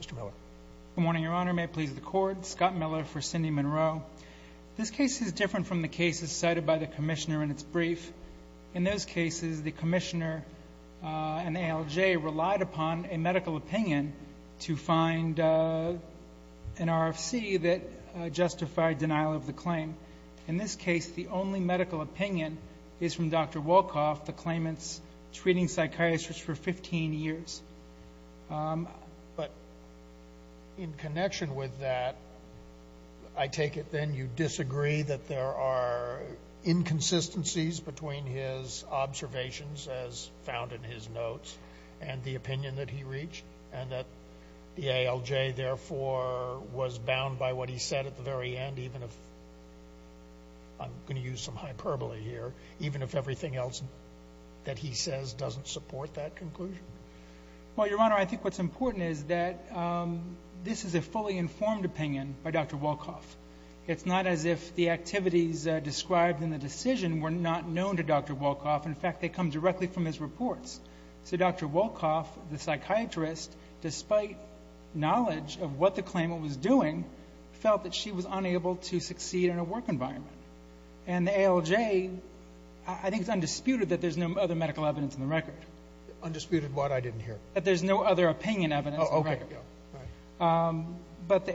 Mr. Miller. Good morning, Your Honor. May it please the Court, Scott Miller for Cindy Monroe. This case is different from the cases cited by the Commissioner in its brief. In those cases, the Commissioner and ALJ relied upon a medical opinion to find an RFC that justified denial of the claim. In this case, the only medical opinion is from Dr. Wolkoff, the claimant's treating psychiatrist for 15 years. But in connection with that, I take it then you disagree that there are inconsistencies between his observations, as found in his notes, and the opinion that he reached, and that the ALJ therefore was bound by what he said at the very end, even if, I'm going to use some hyperbole here, even if everything else that he says doesn't support that conclusion? Well, Your Honor, I think what's important is that this is a fully informed opinion by Dr. Wolkoff. It's not as if the activities described in the decision were not known to Dr. Wolkoff. In fact, they come directly from his reports. So Dr. Wolkoff, the psychiatrist, despite knowledge of what the claimant was doing, felt that she was unable to succeed in a work environment. And the ALJ, I think it's undisputed that there's no other medical evidence in the record. Undisputed what? I didn't hear. That there's no other opinion evidence in the record. But the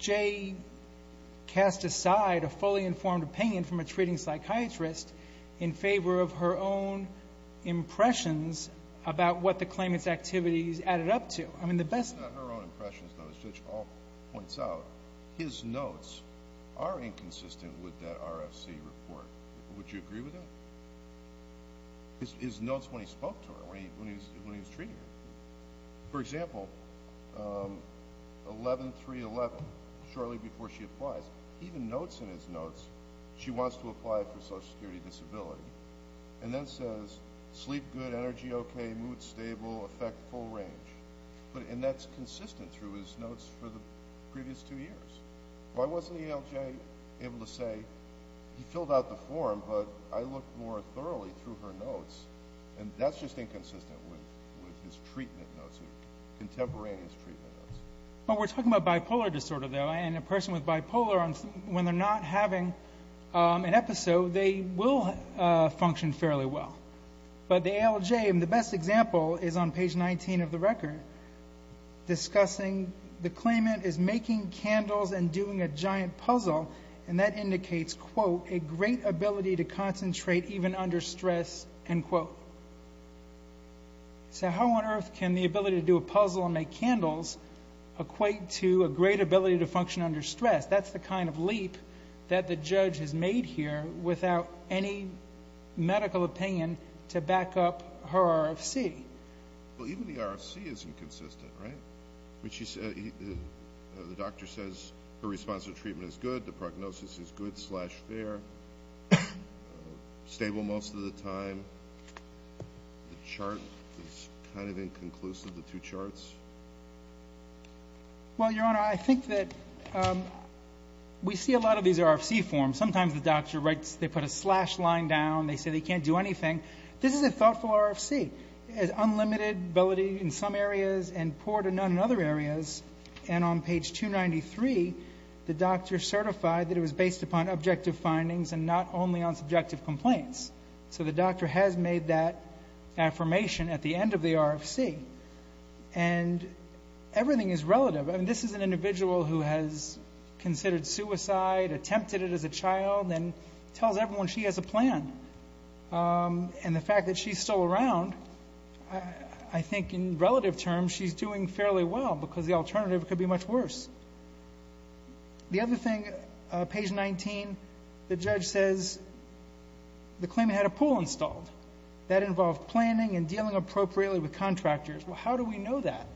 ALJ cast aside a fully informed opinion from a treating psychiatrist in favor of her own impressions about what the claimant's activities added up to. It's not her own impressions, though, as Judge Hall points out. His notes are inconsistent with that RFC report. Would you agree with that? His notes when he spoke to her, when he was treating her. For example, 11-3-11, shortly before she applies. Even notes in his notes, she wants to apply for Social Security Disability. And then says, sleep good, energy okay, mood stable, affect full range. And that's consistent through his notes for the previous two years. Why wasn't the ALJ able to say, he filled out the form, but I looked more thoroughly through her notes. And that's just inconsistent with his treatment notes, contemporaneous treatment notes. We're talking about bipolar disorder, though, and a person with bipolar, when they're not having an episode, they will function fairly well. But the ALJ, and the best example is on page 19 of the record, discussing the claimant is making candles and doing a giant puzzle, and that indicates, quote, a great ability to concentrate even under stress, end quote. So how on earth can the ability to do a puzzle and make candles equate to a great ability to function under stress? That's the kind of leap that the judge has made here without any medical opinion to back up her RFC. Well, even the RFC is inconsistent, right? The doctor says her response to treatment is good, the prognosis is good-slash-fair, stable most of the time. The chart is kind of inconclusive, the two charts. Well, Your Honor, I think that we see a lot of these RFC forms. Sometimes the doctor writes, they put a slash line down, they say they can't do anything. This is a thoughtful RFC. It has unlimited ability in some areas and poor to none in other areas. And on page 293, the doctor certified that it was based upon objective findings and not only on subjective complaints. So the doctor has made that affirmation at the end of the RFC. And everything is relative. This is an individual who has considered suicide, attempted it as a child, and tells everyone she has a plan. And the fact that she's still around, I think in relative terms, she's doing fairly well because the alternative could be much worse. The other thing, page 19, the judge says the claimant had a pool installed. That involved planning and dealing appropriately with contractors. Well, how do we know that?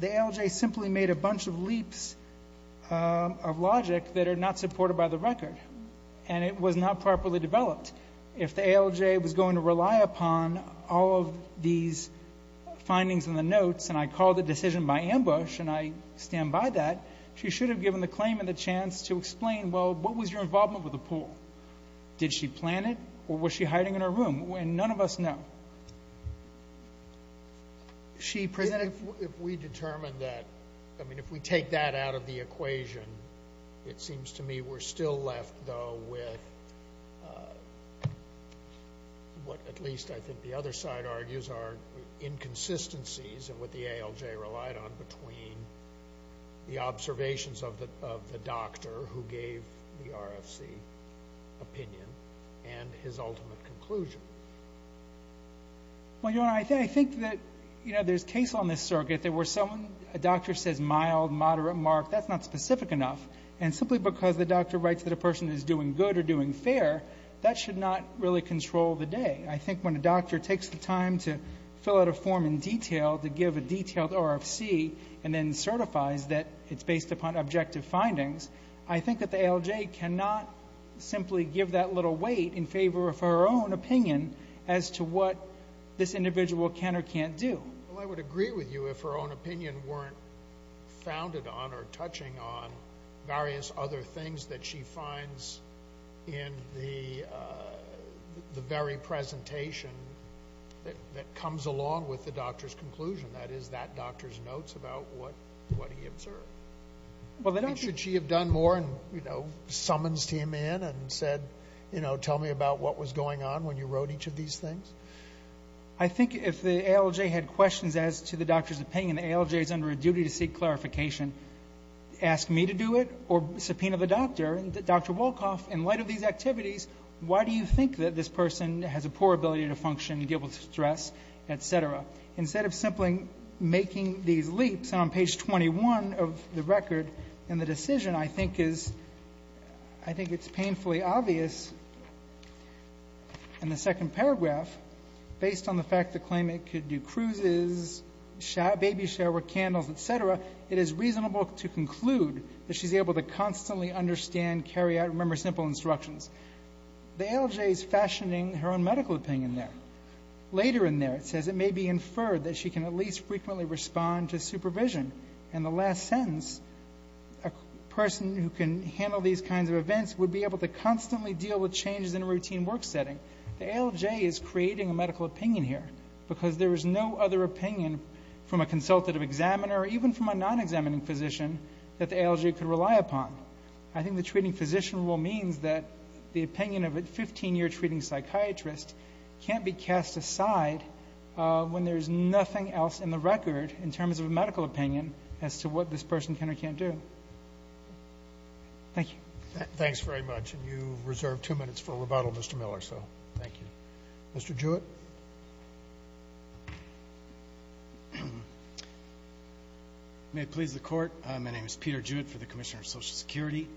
The ALJ simply made a bunch of leaps of logic that are not supported by the record. And it was not properly developed. If the ALJ was going to rely upon all of these findings in the notes, and I call the decision by ambush and I stand by that, she should have given the claimant the chance to explain, well, what was your involvement with the pool? Did she plan it or was she hiding in her room? And none of us know. If we take that out of the equation, it seems to me we're still left, though, with what at least I think the other side argues are inconsistencies of what the ALJ relied on between the observations of the doctor who gave the RFC opinion and his ultimate conclusion. Well, Your Honor, I think that, you know, there's case on this circuit that where a doctor says mild, moderate, marked, that's not specific enough. And simply because the doctor writes that a person is doing good or doing fair, that should not really control the day. I think when a doctor takes the time to fill out a form in detail, to give a detailed RFC and then certifies that it's based upon objective findings, I think that the ALJ cannot simply give that little weight in favor of her own opinion as to what this individual can or can't do. Well, I would agree with you if her own opinion weren't founded on or touching on various other things that she finds in the very presentation that comes along with the doctor's conclusion, that is, that doctor's notes about what he observed. Should she have done more and, you know, summoned him in and said, you know, tell me about what was going on when you wrote each of these things? I think if the ALJ had questions as to the doctor's opinion, the ALJ is under a duty to seek clarification. Ask me to do it or subpoena the doctor. And Dr. Wolkoff, in light of these activities, why do you think that this person has a poor ability to function, be able to stress, et cetera? Instead of simply making these leaps, on page 21 of the record in the decision, I think it's painfully obvious in the second paragraph, based on the fact the claimant could do cruises, baby shower, candles, et cetera, it is reasonable to conclude that she's able to constantly understand, carry out and remember simple instructions. The ALJ is fashioning her own medical opinion there. Later in there it says, it may be inferred that she can at least frequently respond to supervision. In the last sentence, a person who can handle these kinds of events would be able to constantly deal with changes in a routine work setting. The ALJ is creating a medical opinion here because there is no other opinion from a consultative examiner or even from a non-examining physician that the ALJ could rely upon. I think the treating physician rule means that the opinion of a 15-year treating psychiatrist can't be cast aside when there is nothing else in the record in terms of a medical opinion as to what this person can or can't do. Thank you. Thanks very much. You reserved two minutes for rebuttal, Mr. Miller, so thank you. Mr. Jewett. May it please the Court, my name is Peter Jewett for the Commissioner of Social Security.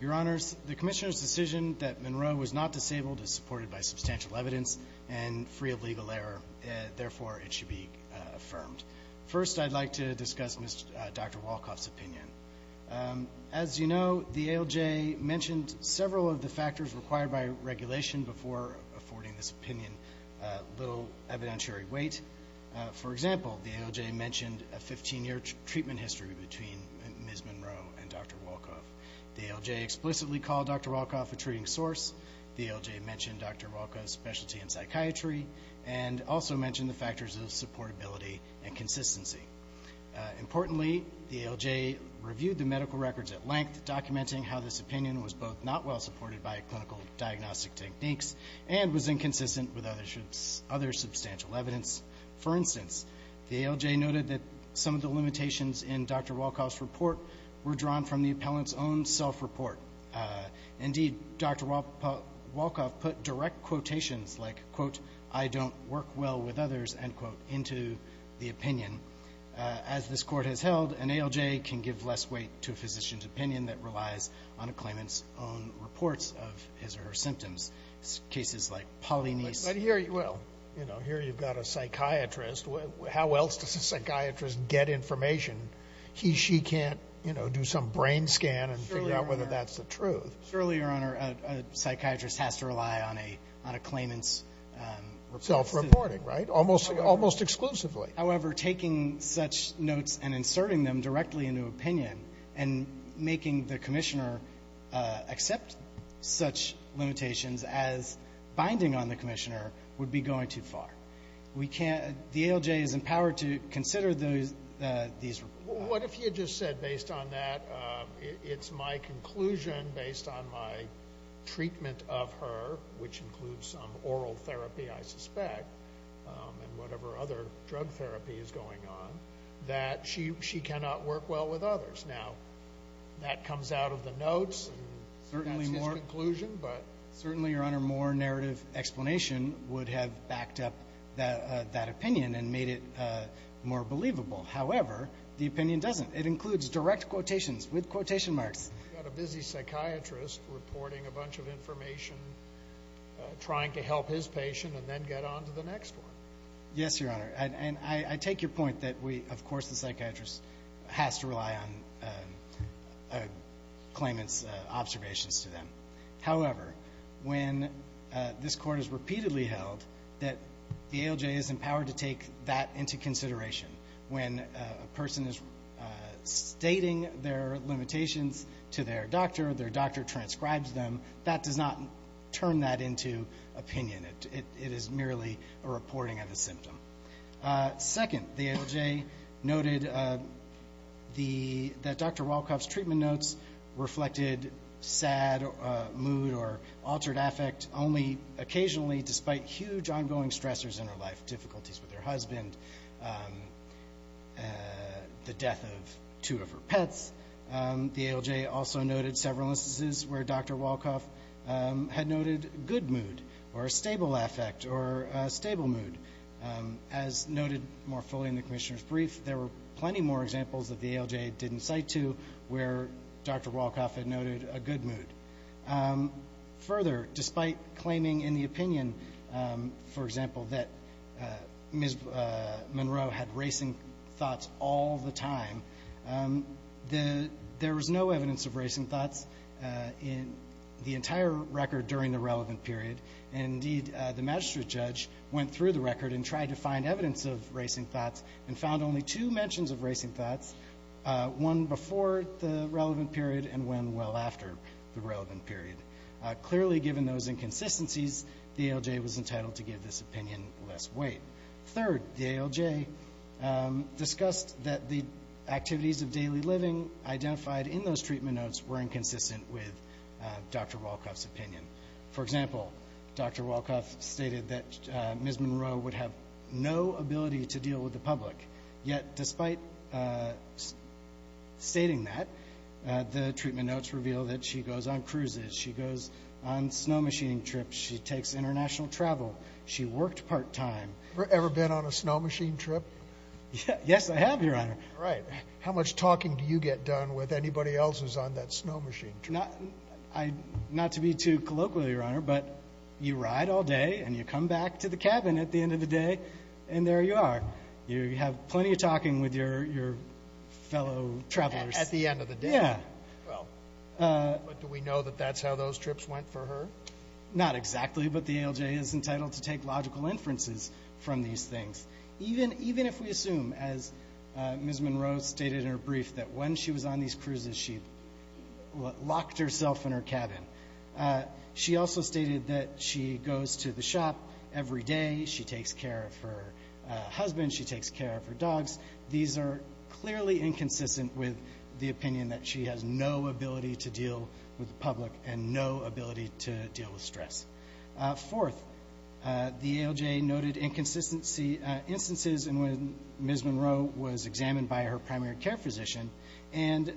Your Honors, the Commissioner's decision that Monroe was not disabled is supported by substantial evidence and free of legal error. Therefore, it should be affirmed. First, I'd like to discuss Dr. Wolkoff's opinion. As you know, the ALJ mentioned several of the factors required by regulation before affording this opinion little evidentiary weight. For example, the ALJ mentioned a 15-year treatment history between Ms. Monroe and Dr. Wolkoff. The ALJ explicitly called Dr. Wolkoff a treating source. The ALJ mentioned Dr. Wolkoff's specialty in psychiatry and also mentioned the factors of supportability and consistency. Importantly, the ALJ reviewed the medical records at length, documenting how this opinion was both not well supported by clinical diagnostic techniques and was inconsistent with other substantial evidence. For instance, the ALJ noted that some of the limitations in Dr. Wolkoff's report were drawn from the appellant's own self-report. Indeed, Dr. Wolkoff put direct quotations like, quote, I don't work well with others, end quote, into the opinion. As this court has held, an ALJ can give less weight to a physician's opinion that relies on a claimant's own reports of his or her symptoms. Cases like Pauline's. Well, here you've got a psychiatrist. How else does a psychiatrist get information? He, she can't, you know, do some brain scan and figure out whether that's the truth. Surely, Your Honor, a psychiatrist has to rely on a claimant's. Self-reporting, right? Almost exclusively. However, taking such notes and inserting them directly into opinion and making the commissioner accept such limitations as binding on the commissioner would be going too far. The ALJ is empowered to consider these reports. What if he had just said, based on that, it's my conclusion based on my treatment of her, which includes some oral therapy, I suspect, and whatever other drug therapy is going on, that she cannot work well with others. Now, that comes out of the notes. That's his conclusion. Certainly, Your Honor, more narrative explanation would have backed up that opinion and made it more believable. However, the opinion doesn't. It includes direct quotations with quotation marks. You've got a busy psychiatrist reporting a bunch of information, trying to help his patient and then get on to the next one. Yes, Your Honor, and I take your point that we, of course, the psychiatrist has to rely on a claimant's observations to them. However, when this court has repeatedly held that the ALJ is empowered to take that into consideration, when a person is stating their limitations to their doctor, their doctor transcribes them, that does not turn that into opinion. It is merely a reporting of a symptom. Second, the ALJ noted that Dr. Wolkoff's treatment notes reflected sad mood or altered affect only occasionally despite huge ongoing stressors in her life, difficulties with her husband, the death of two of her pets. The ALJ also noted several instances where Dr. Wolkoff had noted good mood or a stable affect or a stable mood. As noted more fully in the commissioner's brief, there were plenty more examples that the ALJ didn't cite to where Dr. Wolkoff had noted a good mood. Further, despite claiming in the opinion, for example, that Ms. Monroe had racing thoughts all the time, there was no evidence of racing thoughts in the entire record during the relevant period. Indeed, the magistrate judge went through the record and tried to find evidence of racing thoughts and found only two mentions of racing thoughts, one before the relevant period and one well after the relevant period. Clearly, given those inconsistencies, the ALJ was entitled to give this opinion less weight. Third, the ALJ discussed that the activities of daily living identified in those treatment notes were inconsistent with Dr. Wolkoff's opinion. For example, Dr. Wolkoff stated that Ms. Monroe would have no ability to deal with the public, yet despite stating that, the treatment notes reveal that she goes on cruises, she goes on snow-machining trips, she takes international travel, she worked part-time. Have you ever been on a snow-machine trip? Yes, I have, Your Honor. Right. How much talking do you get done with anybody else who's on that snow-machine trip? Not to be too colloquial, Your Honor, but you ride all day and you come back to the cabin at the end of the day, and there you are. You have plenty of talking with your fellow travelers. At the end of the day? Yeah. Well, do we know that that's how those trips went for her? Not exactly, but the ALJ is entitled to take logical inferences from these things. Even if we assume, as Ms. Monroe stated in her brief, that when she was on these cruises, she locked herself in her cabin. She also stated that she goes to the shop every day, she takes care of her husband, she takes care of her dogs. These are clearly inconsistent with the opinion that she has no ability to deal with the public and no ability to deal with stress. Fourth, the ALJ noted inconsistency instances in when Ms. Monroe was examined by her primary care physician and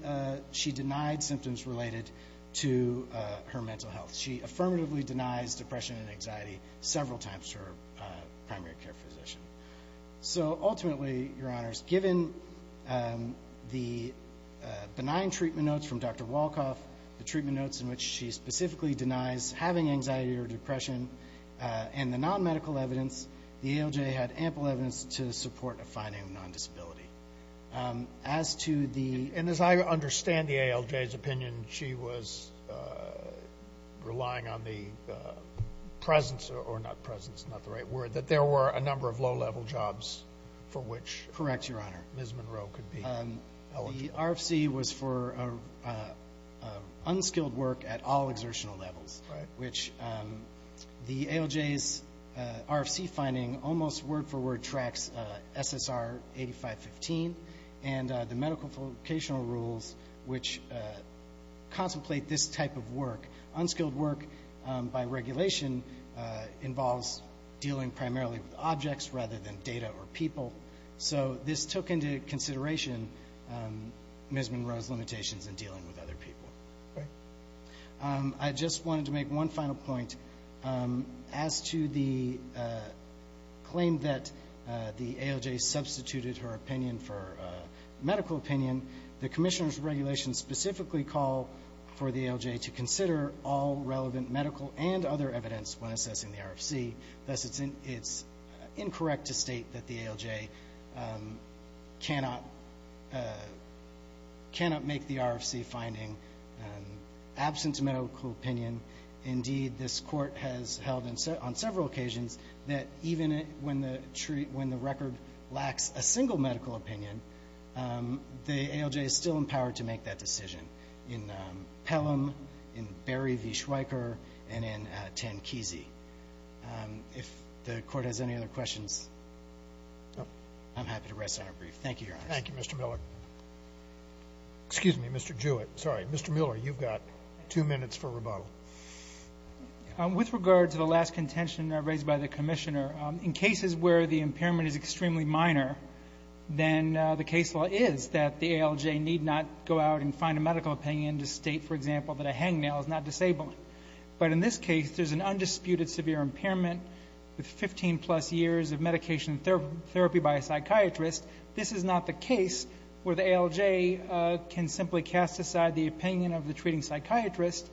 she denied symptoms related to her mental health. She affirmatively denies depression and anxiety several times to her primary care physician. So ultimately, Your Honors, given the benign treatment notes from Dr. Wolkoff, the treatment notes in which she specifically denies having anxiety or depression, and the non-medical evidence, the ALJ had ample evidence to support a finding of non-disability. As to the – and as I understand the ALJ's opinion, she was relying on the presence – Correct, Your Honor. Ms. Monroe could be eligible. The RFC was for unskilled work at all exertional levels, which the ALJ's RFC finding almost word for word tracks SSR 8515 and the medical vocational rules which contemplate this type of work. Unskilled work by regulation involves dealing primarily with objects rather than data or people. So this took into consideration Ms. Monroe's limitations in dealing with other people. I just wanted to make one final point. As to the claim that the ALJ substituted her opinion for medical opinion, the Commissioner's regulations specifically call for the ALJ to consider all relevant medical and other evidence when assessing the RFC. Thus, it's incorrect to state that the ALJ cannot make the RFC finding absent medical opinion. Indeed, this Court has held on several occasions that even when the record lacks a single medical opinion, the ALJ is still empowered to make that decision in Pelham, in Berry v. Schweiker, and in Tankeese. If the Court has any other questions, I'm happy to rest on our brief. Thank you, Your Honor. Thank you, Mr. Miller. Excuse me, Mr. Jewett. Sorry, Mr. Miller, you've got two minutes for rebuttal. With regard to the last contention raised by the Commissioner, in cases where the impairment is extremely minor, then the case law is that the ALJ need not go out and find a medical opinion to state, for example, that a hangnail is not disabling. But in this case, there's an undisputed severe impairment with 15-plus years of medication therapy by a psychiatrist. This is not the case where the ALJ can simply cast aside the opinion of the treating psychiatrist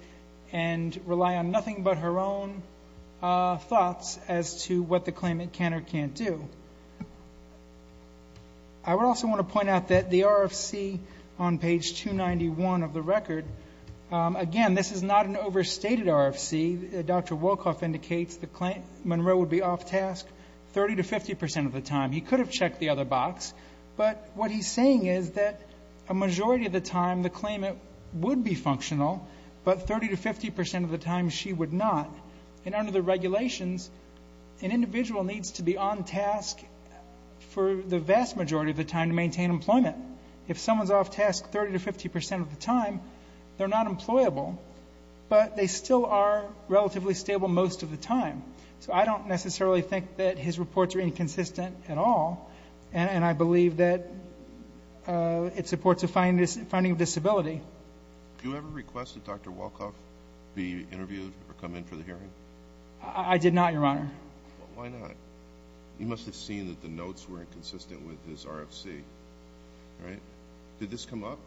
and rely on nothing but her own thoughts as to what the claimant can or can't do. I would also want to point out that the RFC on page 291 of the record, again, this is not an overstated RFC. Dr. Wolkoff indicates that Monroe would be off task 30 to 50 percent of the time. He could have checked the other box. But what he's saying is that a majority of the time the claimant would be functional, but 30 to 50 percent of the time she would not. And under the regulations, an individual needs to be on task for the vast majority of the time to maintain employment. If someone's off task 30 to 50 percent of the time, they're not employable, but they still are relatively stable most of the time. So I don't necessarily think that his reports are inconsistent at all. And I believe that it supports a finding of disability. Did you ever request that Dr. Wolkoff be interviewed or come in for the hearing? I did not, Your Honor. Why not? You must have seen that the notes were inconsistent with his RFC, right? Did this come up?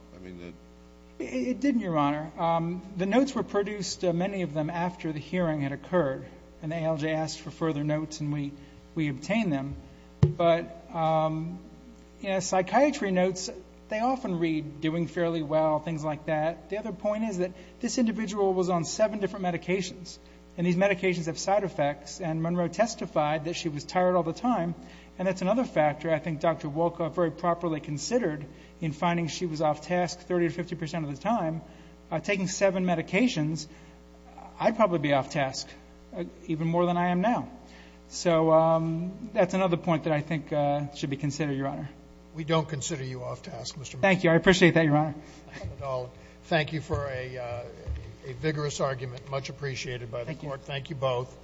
It didn't, Your Honor. The notes were produced, many of them, after the hearing had occurred. And ALJ asked for further notes, and we obtained them. But psychiatry notes, they often read, doing fairly well, things like that. The other point is that this individual was on seven different medications, and these medications have side effects. And Monroe testified that she was tired all the time. And that's another factor I think Dr. Wolkoff very properly considered in finding she was off task 30 to 50 percent of the time. Taking seven medications, I'd probably be off task even more than I am now. So that's another point that I think should be considered, Your Honor. We don't consider you off task, Mr. MacKinnon. Thank you. I appreciate that, Your Honor. Thank you for a vigorous argument, much appreciated by the court. Thank you both.